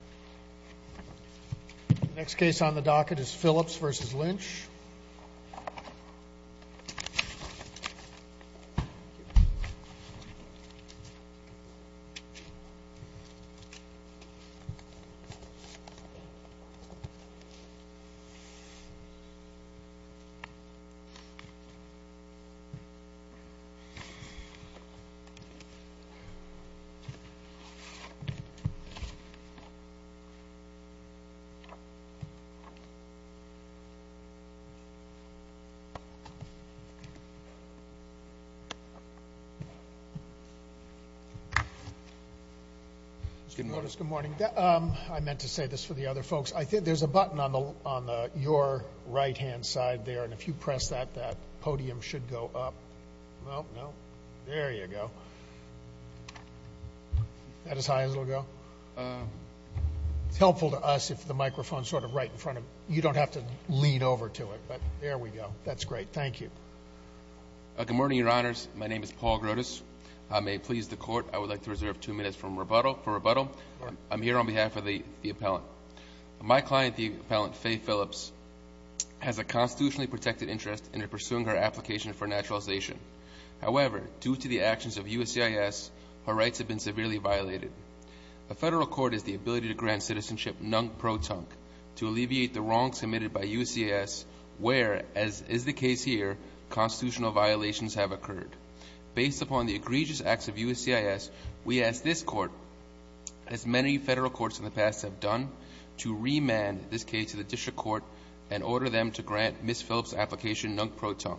The next case on the docket is Phillips v. Lynch. Good morning. I meant to say this for the other folks. There's a button on your right-hand side there, and if you press that, that podium should go up. No, no. There you go. Is that as high as it will go? It's helpful to us if the microphone is sort of right in front of you. You don't have to lean over to it, but there we go. That's great. Thank you. Good morning, Your Honors. My name is Paul Grotus. I may please the Court. I would like to reserve two minutes for rebuttal. I'm here on behalf of the appellant. My client, the appellant Fay Phillips, has a constitutionally protected interest in her pursuing her application for naturalization. However, due to the actions of USCIS, her rights have been severely violated. A federal court has the ability to grant citizenship nunc pro tonc to alleviate the wrongs committed by USCIS, where, as is the case here, constitutional violations have occurred. Based upon the egregious acts of USCIS, we ask this Court, as many federal courts in the past have done, to remand this case to the district court and order them to grant Ms. Phillips' application nunc pro tonc.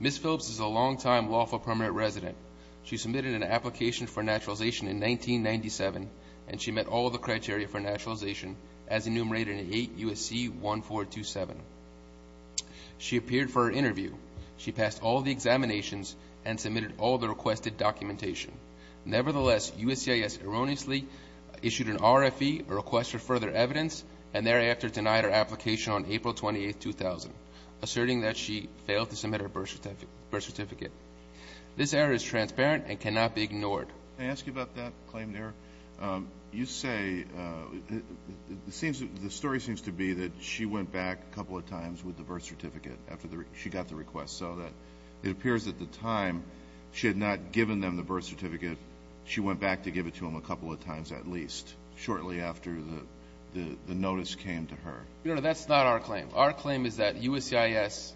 Ms. Phillips is a longtime lawful permanent resident. She submitted an application for naturalization in 1997, and she met all the criteria for naturalization as enumerated in 8 U.S.C. 1427. She appeared for an interview. She passed all the examinations and submitted all the requested documentation. Nevertheless, USCIS erroneously issued an RFE, a request for further evidence, and thereafter denied her application on April 28, 2000, asserting that she failed to submit her birth certificate. This error is transparent and cannot be ignored. Can I ask you about that claimed error? You say the story seems to be that she went back a couple of times with the birth certificate after she got the request. So it appears at the time she had not given them the birth certificate. She went back to give it to them a couple of times at least, shortly after the notice came to her. No, no, that's not our claim. Our claim is that USCIS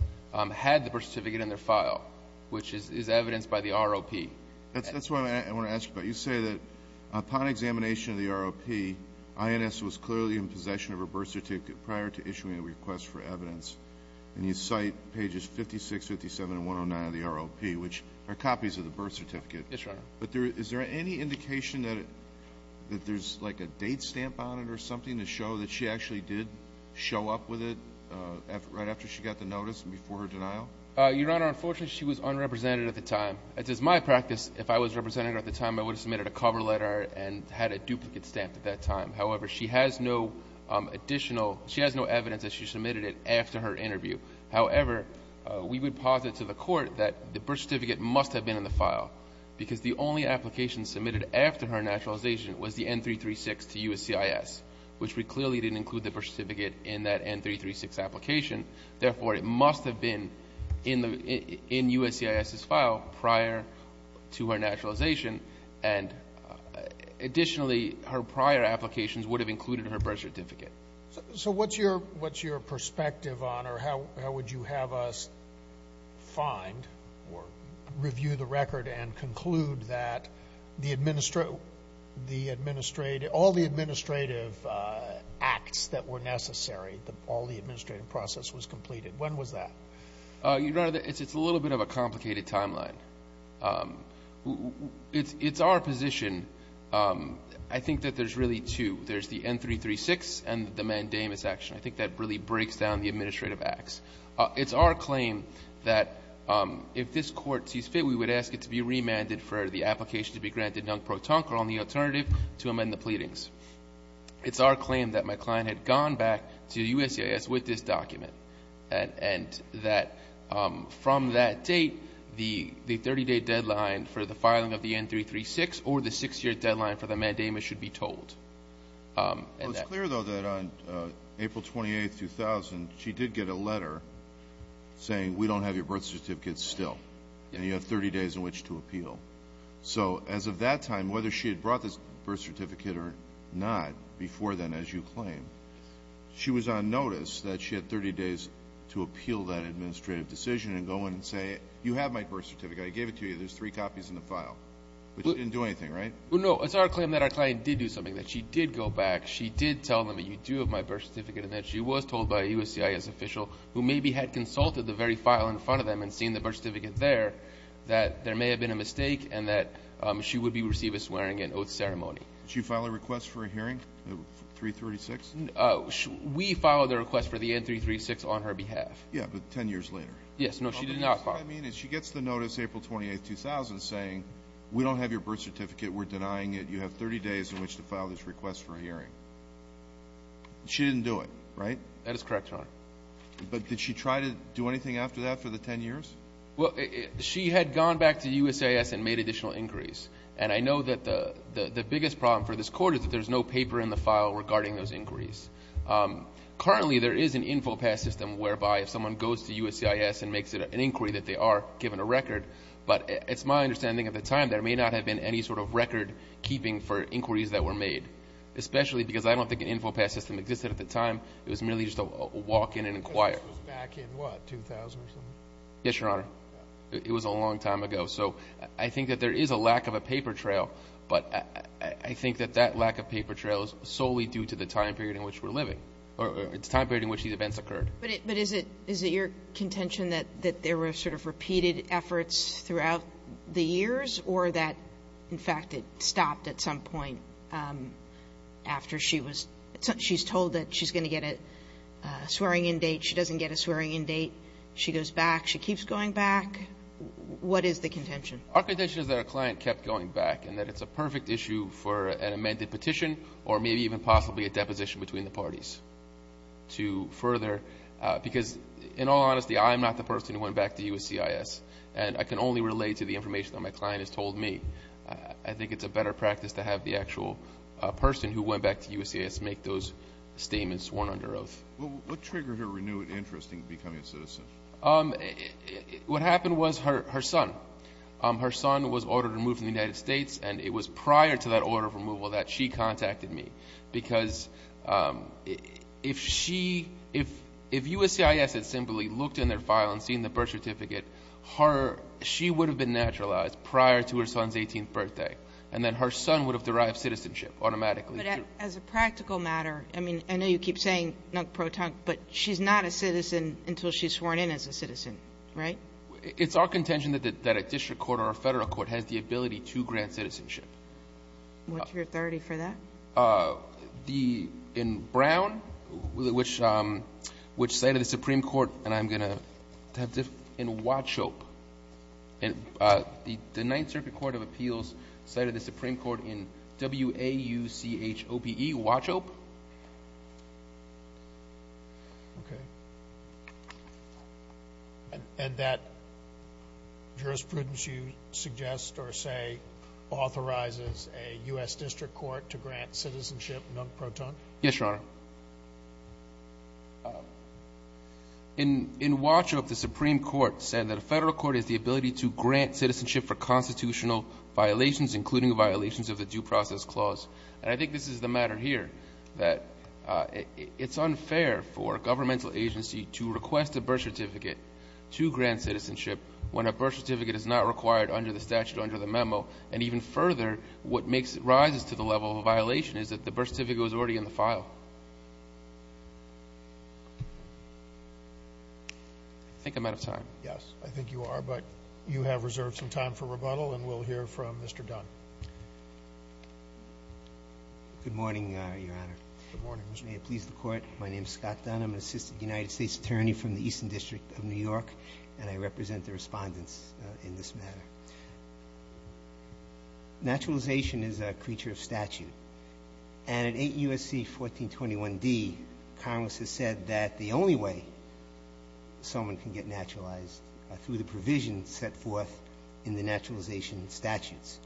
had the birth certificate in their file, which is evidenced by the ROP. That's what I want to ask about. You say that upon examination of the ROP, INS was clearly in possession of her birth certificate prior to issuing a request for evidence, and you cite pages 56, 57, and 109 of the ROP, which are copies of the birth certificate. Yes, Your Honor. But is there any indication that there's like a date stamp on it or something to show that she actually did show up with it right after she got the notice and before her denial? Your Honor, unfortunately, she was unrepresented at the time. It is my practice if I was represented at the time, I would have submitted a cover letter and had a duplicate stamp at that time. However, she has no additional evidence that she submitted it after her interview. However, we would posit to the court that the birth certificate must have been in the file because the only application submitted after her naturalization was the N336 to USCIS, which we clearly didn't include the birth certificate in that N336 application. Therefore, it must have been in USCIS's file prior to her naturalization, and additionally, her prior applications would have included her birth certificate. So what's your perspective on or how would you have us find or review the record and conclude that all the administrative acts that were necessary, all the administrative process was completed? When was that? Your Honor, it's a little bit of a complicated timeline. It's our position. I think that there's really two. There's the N336 and the mandamus action. I think that really breaks down the administrative acts. It's our claim that if this Court sees fit, we would ask it to be remanded for the application to be granted non pro tonque or on the alternative to amend the pleadings. It's our claim that my client had gone back to USCIS with this document and that from that date the 30-day deadline for the filing of the N336 or the six-year deadline for the mandamus should be told. It's clear, though, that on April 28, 2000, she did get a letter saying, we don't have your birth certificate still and you have 30 days in which to appeal. So as of that time, whether she had brought this birth certificate or not before then, as you claim, she was on notice that she had 30 days to appeal that administrative decision and go in and say, you have my birth certificate, I gave it to you, there's three copies in the file. But she didn't do anything, right? No, it's our claim that our client did do something, that she did go back, she did tell them that you do have my birth certificate and that she was told by a USCIS official who maybe had consulted the very file in front of them and seen the birth certificate there, that there may have been a mistake and that she would receive a swearing-in oath ceremony. Did she file a request for a hearing, the N336? We filed a request for the N336 on her behalf. Yes, but 10 years later. Yes, no, she did not file. What I mean is she gets the notice April 28, 2000, saying we don't have your birth certificate, we're denying it, you have 30 days in which to file this request for a hearing. She didn't do it, right? That is correct, Your Honor. But did she try to do anything after that for the 10 years? Well, she had gone back to USCIS and made additional inquiries. And I know that the biggest problem for this Court is that there's no paper in the file regarding those inquiries. Currently, there is an infopass system whereby if someone goes to USCIS and makes an inquiry that they are given a record, but it's my understanding at the time there may not have been any sort of record keeping for inquiries that were made, especially because I don't think an infopass system existed at the time. It was merely just a walk-in and inquire. This was back in, what, 2000 or something? Yes, Your Honor. It was a long time ago. So I think that there is a lack of a paper trail, but I think that that lack of paper trail is solely due to the time period in which we're living or the time period in which these events occurred. But is it your contention that there were sort of repeated efforts throughout the years or that, in fact, it stopped at some point after she was told that she's going to get a swearing-in date. She doesn't get a swearing-in date. She goes back. She keeps going back. What is the contention? Our contention is that her client kept going back and that it's a perfect issue for an amended petition or maybe even possibly a deposition between the parties to further because, in all honesty, I'm not the person who went back to USCIS, and I can only relate to the information that my client has told me. I think it's a better practice to have the actual person who went back to USCIS make those statements sworn under oath. What happened was her son. Her son was ordered removed from the United States, and it was prior to that order of removal that she contacted me because if she, if USCIS had simply looked in their file and seen the birth certificate, she would have been naturalized prior to her son's 18th birthday, and then her son would have derived citizenship automatically. But as a practical matter, I mean, I know you keep saying non-proton, but she's not a citizen until she's sworn in as a citizen, right? It's our contention that a district court or a federal court has the ability to grant citizenship. What's your authority for that? In Brown, which side of the Supreme Court, and I'm going to have to, in Wachope, the Ninth Circuit Court of Appeals cited the Supreme Court in W-A-U-C-H-O-P-E, Wachope. Okay. And that jurisprudence you suggest or say authorizes a U.S. district court to grant citizenship non-proton? Yes, Your Honor. In Wachope, the Supreme Court said that a federal court has the ability to grant citizenship for constitutional violations, including violations of the Due Process Clause. And I think this is the matter here, that it's unfair for a governmental agency to request a birth certificate to grant citizenship when a birth certificate is not required under the statute under the memo. And even further, what makes it rise to the level of a violation is that the birth certificate was already in the file. I think I'm out of time. Yes. I think you are, but you have reserved some time for rebuttal, and we'll hear from Mr. Dunn. Good morning, Your Honor. Good morning, Mr. Chief. May it please the Court, my name is Scott Dunn. I'm an assistant United States attorney from the Eastern District of New York, and I represent the respondents in this matter. Naturalization is a creature of statute. And in 8 U.S.C. 1421d, Congress has said that the only way someone can get naturalized are through the provisions set forth in the naturalization statutes.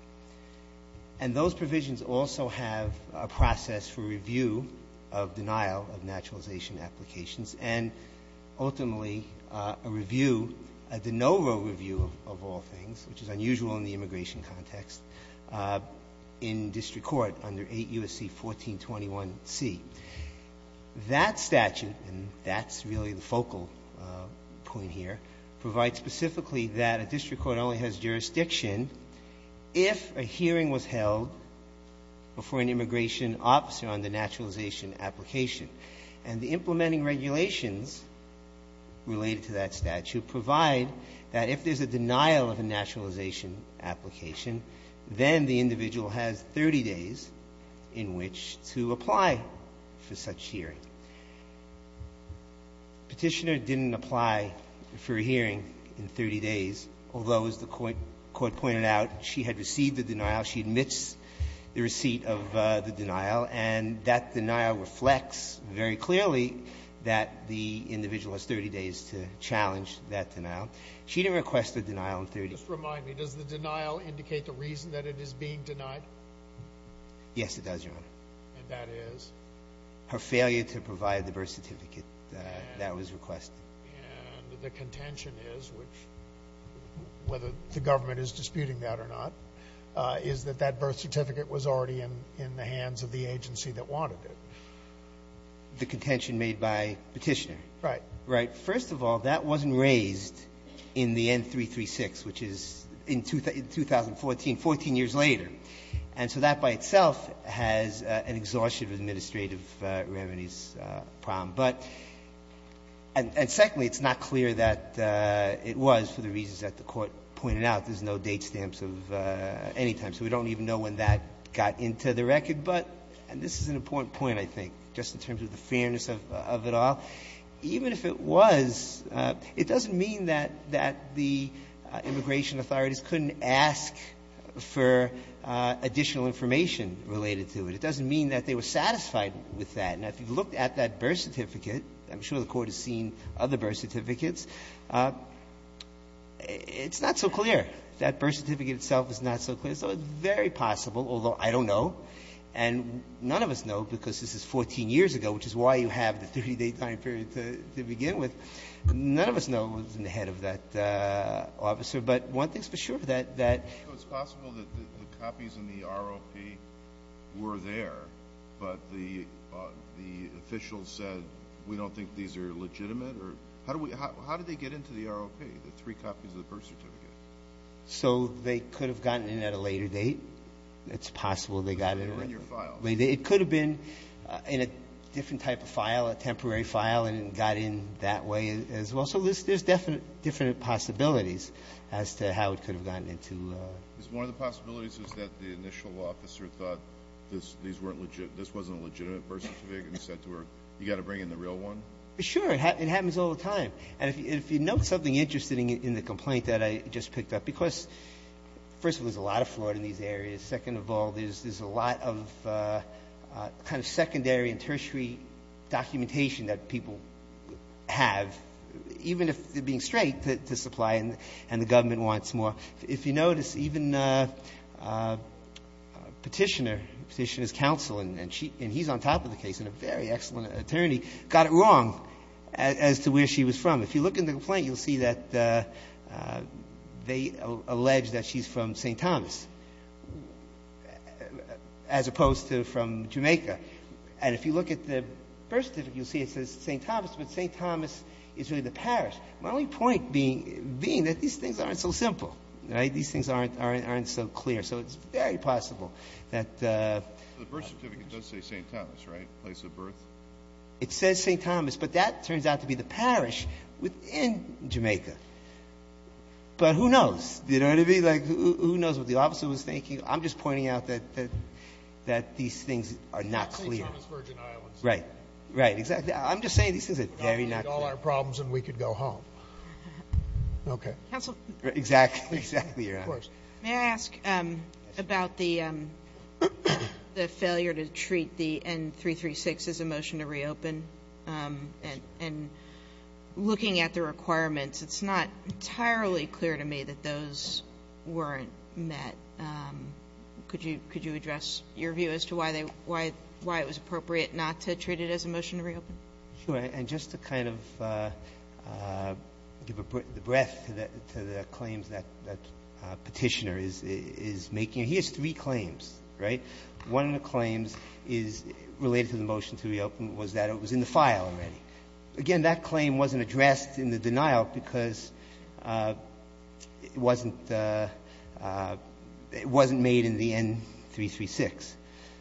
And those provisions also have a process for review of denial of naturalization applications and ultimately a review, a de novo review of all things, which is unusual in the immigration context, in district court under 8 U.S.C. 1421c. That statute, and that's really the focal point here, provides specifically that a district court only has jurisdiction if a hearing was held before an immigration officer on the naturalization application. And the implementing regulations related to that statute provide that if there's a denial of a naturalization application, then the individual has 30 days in which to apply for such hearing. Petitioner didn't apply for a hearing in 30 days, although, as the Court pointed out, she had received the denial. She admits the receipt of the denial, and that denial reflects very clearly that she didn't request the denial in 30 days. Just remind me, does the denial indicate the reason that it is being denied? Yes, it does, Your Honor. And that is? Her failure to provide the birth certificate that was requested. And the contention is, which, whether the government is disputing that or not, is that that birth certificate was already in the hands of the agency that wanted it. The contention made by Petitioner. Right. Right. First of all, that wasn't raised in the N-336, which is in 2014, 14 years later. And so that by itself has an exhaustion of administrative remedies problem. But and secondly, it's not clear that it was for the reasons that the Court pointed out. There's no date stamps of any time. So we don't even know when that got into the record. But this is an important point, I think, just in terms of the fairness of it all. Even if it was, it doesn't mean that the immigration authorities couldn't ask for additional information related to it. It doesn't mean that they were satisfied with that. And if you look at that birth certificate, I'm sure the Court has seen other birth certificates, it's not so clear. That birth certificate itself is not so clear. So it's very possible, although I don't know and none of us know because this is 14 years ago, which is why you have the 30-day time period to begin with. None of us know what's in the head of that officer. But one thing's for sure, that that ---- So it's possible that the copies in the ROP were there, but the officials said, we don't think these are legitimate? Or how did they get into the ROP, the three copies of the birth certificate? So they could have gotten in at a later date. It's possible they got in at a later date. They were in your file. It could have been in a different type of file, a temporary file, and it got in that way as well. So there's definitely different possibilities as to how it could have gotten into ---- One of the possibilities is that the initial officer thought this wasn't a legitimate birth certificate and said to her, you've got to bring in the real one? Sure. It happens all the time. And if you note something interesting in the complaint that I just picked up, because first of all, there's a lot of fraud in these areas. Second of all, there's a lot of kind of secondary and tertiary documentation that people have, even if they're being straight to supply and the government wants more. If you notice, even Petitioner, Petitioner's counsel, and he's on top of the case and a very excellent attorney, got it wrong as to where she was from. If you look in the complaint, you'll see that they allege that she's from St. Thomas as opposed to from Jamaica. And if you look at the birth certificate, you'll see it says St. Thomas, but St. Thomas is really the parish. My only point being that these things aren't so simple, right? These things aren't so clear. So it's very possible that ---- The birth certificate does say St. Thomas, right, place of birth? It says St. Thomas. But that turns out to be the parish within Jamaica. But who knows? You know what I mean? Like, who knows what the officer was thinking? I'm just pointing out that these things are not clear. St. Thomas, Virgin Islands. Right. Right. Exactly. I'm just saying these things are very not clear. All our problems and we could go home. Okay. Counsel. Exactly. Exactly, Your Honor. May I ask about the failure to treat the N336 as a motion to reopen? And looking at the requirements, it's not entirely clear to me that those weren't met. Could you address your view as to why they ---- why it was appropriate not to treat it as a motion to reopen? Sure. And just to kind of give a breath to the claims that Petitioner is making, he has three claims, right? One of the claims is related to the motion to reopen was that it was in the file already. Again, that claim wasn't addressed in the denial because it wasn't made in the N336.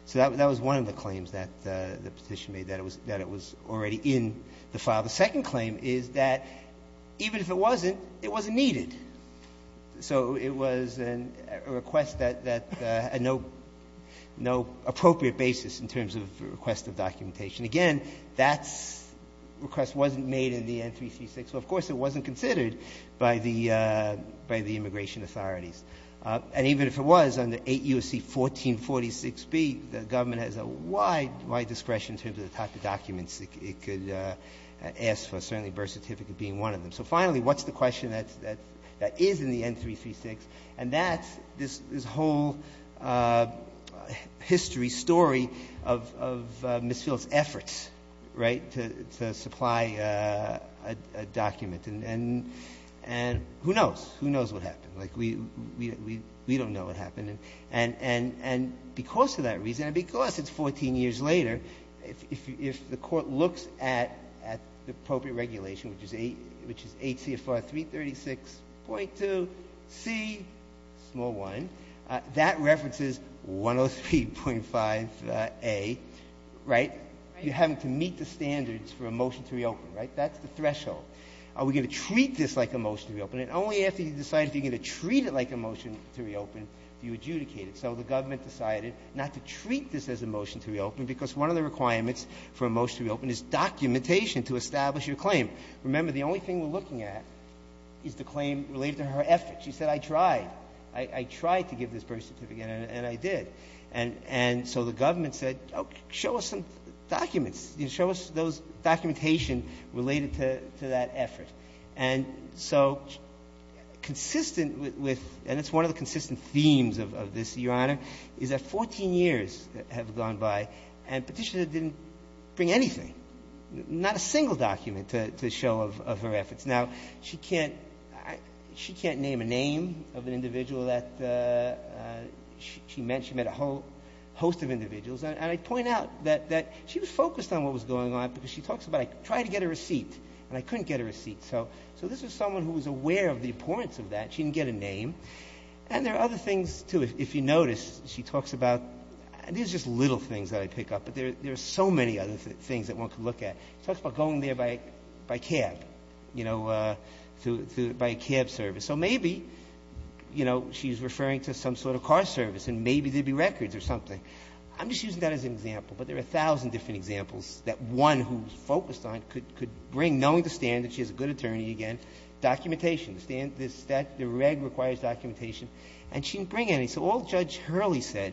So that was one of the claims that the Petitioner made, that it was already in the file. The second claim is that even if it wasn't, it wasn't needed. So it was a request that had no appropriate basis in terms of request of documentation. Again, that request wasn't made in the N336. So, of course, it wasn't considered by the immigration authorities. And even if it was under 8 U.S.C. 1446b, the government has a wide, wide discretion in terms of the type of documents it could ask for, certainly birth certificate being one of them. So finally, what's the question that is in the N336? And that's this whole history, story of Misfield's efforts, right, to supply a document. And who knows? Who knows what happened? Like, we don't know what happened. And because of that reason and because it's 14 years later, if the Court looks at the appropriate regulation, which is 8 CFR 336.2c1, that references 103.5a, right? You're having to meet the standards for a motion to reopen, right? That's the threshold. Are we going to treat this like a motion to reopen? And only after you decide if you're going to treat it like a motion to reopen do you adjudicate it. So the government decided not to treat this as a motion to reopen because one of the reasons it's not a motion to claim, remember, the only thing we're looking at is the claim related to her efforts. She said, I tried. I tried to give this birth certificate, and I did. And so the government said, oh, show us some documents. Show us those documentation related to that effort. And so consistent with, and it's one of the consistent themes of this, Your Honor, is that 14 years have gone by, and Petitioner didn't bring anything, not a single document to show of her efforts. Now, she can't name a name of an individual that she met. She met a whole host of individuals. And I point out that she was focused on what was going on because she talks about, I tried to get a receipt, and I couldn't get a receipt. So this was someone who was aware of the importance of that. She didn't get a name. And there are other things, too. If you notice, she talks about, these are just little things that I pick up, but there are so many other things that one could look at. She talks about going there by cab, you know, by a cab service. So maybe, you know, she's referring to some sort of car service, and maybe there would be records or something. I'm just using that as an example, but there are a thousand different examples that one who's focused on could bring, knowing the standard, she has a good attorney, again, documentation. The reg requires documentation, and she didn't bring any. So all Judge Hurley said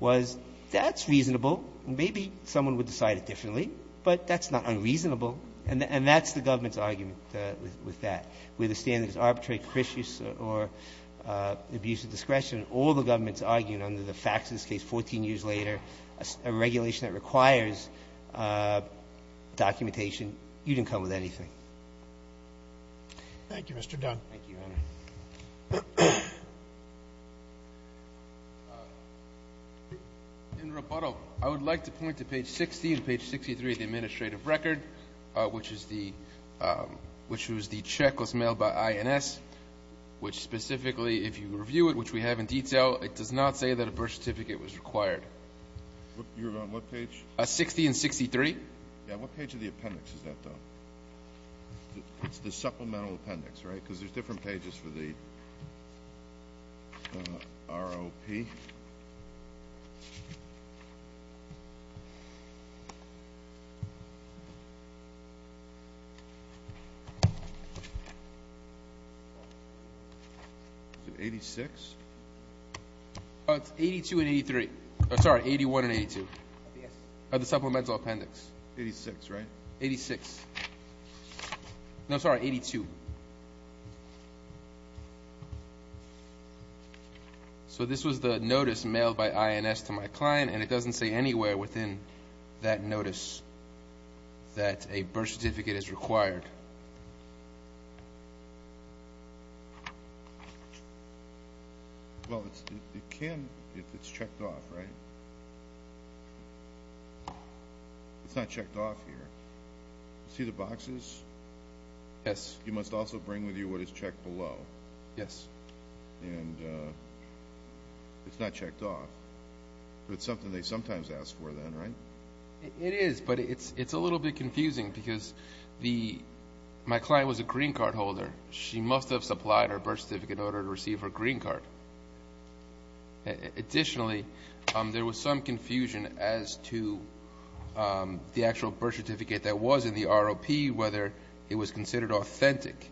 was, that's reasonable, and maybe someone would decide it differently, but that's not unreasonable. And that's the government's argument with that. Whether the standard is arbitrary, pericious, or abuse of discretion, all the government's arguing under the facts in this case 14 years later, a regulation that requires documentation, you didn't come up with anything. Roberts. Thank you, Your Honor. In rebuttal, I would like to point to page 60 and page 63 of the administrative record, which is the check was mailed by INS, which specifically, if you review it, which we have in detail, it does not say that a birth certificate was required. You're on what page? 60 and 63. Yeah. What page of the appendix is that, though? It's the supplemental appendix, right? Because there's different pages for the ROP. Is it 86? It's 82 and 83. I'm sorry, 81 and 82. Yes. Of the supplemental appendix. 86, right? 86. No, sorry, 82. So this was the notice mailed by INS to my client, and it doesn't say anywhere within that notice that a birth certificate is required. Well, it can if it's checked off, right? It's not checked off here. See the boxes? Yes. You must also bring with you what is checked below. Yes. And it's not checked off. But it's something they sometimes ask for then, right? It is, but it's a little bit confusing because my client was a green card holder. She must have supplied her birth certificate in order to receive her green card. Additionally, there was some confusion as to the actual birth certificate that was in the ROP, whether it was considered authentic.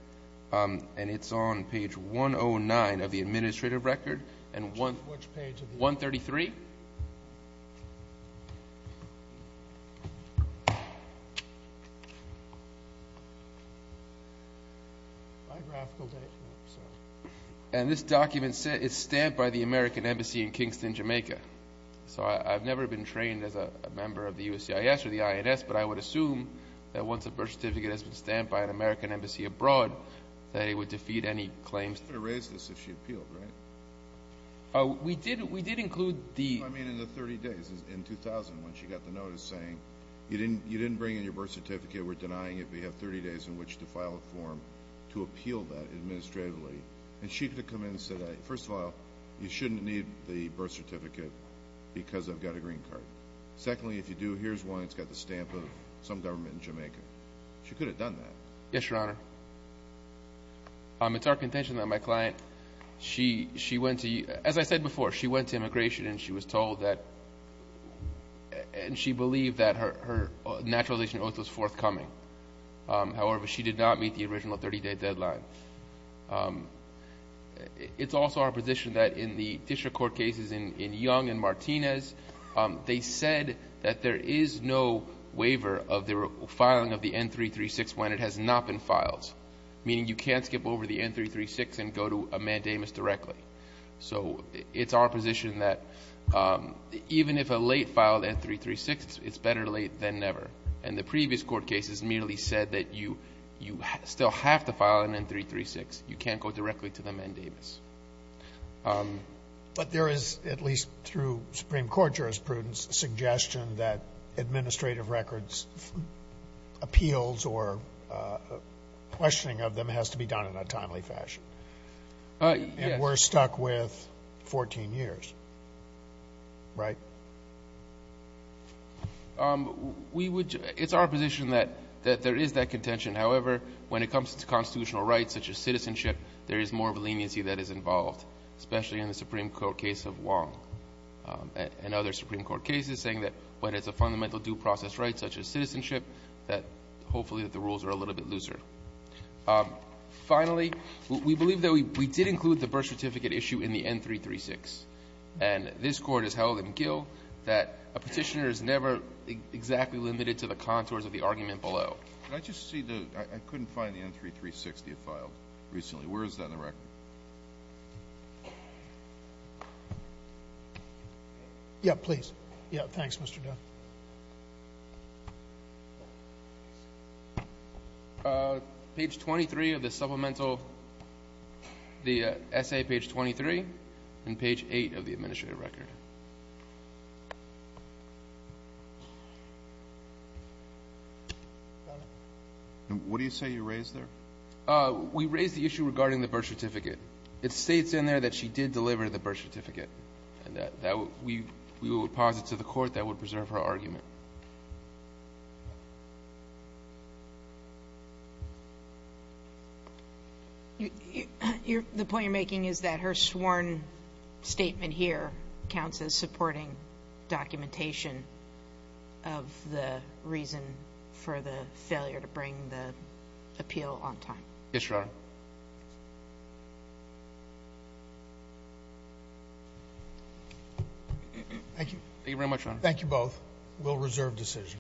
And it's on page 109 of the administrative record. Which page? 133. And this document is stamped by the American Embassy in Kingston, Jamaica. So I've never been trained as a member of the USCIS or the INS, but I would assume that once a birth certificate has been stamped by an American Embassy abroad, that it would defeat any claims. She could have raised this if she appealed, right? We did include the ---- No, I mean in the 30 days. In 2000, when she got the notice saying, you didn't bring in your birth certificate, we're denying it. We have 30 days in which to file a form to appeal that administratively. And she could have come in and said, first of all, you shouldn't need the birth certificate because I've got a green card. Secondly, if you do, here's one. It's got the stamp of some government in Jamaica. Yes, Your Honor. It's our contention that my client, she went to, as I said before, she went to immigration and she was told that and she believed that her naturalization oath was forthcoming. However, she did not meet the original 30-day deadline. It's also our position that in the district court cases in Young and Martinez, they said that there is no waiver of the filing of the N336 when it has not been filed, meaning you can't skip over the N336 and go to a mandamus directly. So it's our position that even if a late filed N336, it's better late than never. And the previous court cases merely said that you still have to file an N336. You can't go directly to the mandamus. But there is, at least through Supreme Court jurisprudence, a suggestion that administrative records, appeals, or questioning of them has to be done in a timely fashion. And we're stuck with 14 years, right? It's our position that there is that contention. However, when it comes to constitutional rights such as citizenship, there is more of a leniency that is involved, especially in the Supreme Court case of Wong and other Supreme Court cases, saying that when it's a fundamental due process right, such as citizenship, that hopefully the rules are a little bit looser. Finally, we believe that we did include the birth certificate issue in the N336. And this Court has held in Gill that a Petitioner is never exactly limited to the contours of the argument below. I just see the, I couldn't find the N336 that you filed recently. Where is that in the record? Yeah, please. Yeah, thanks, Mr. Dunn. Page 23 of the supplemental, the essay page 23, and page 8 of the administrative record. What do you say you raised there? We raised the issue regarding the birth certificate. It states in there that she did deliver the birth certificate. And that we would pause it to the Court. That would preserve her argument. The point you're making is that her sworn statement here counts as supporting documentation of the reason for the failure to bring the appeal on time. Yes, Your Honor. Thank you. Thank you very much, Your Honor. Thank you both. We'll reserve decisions.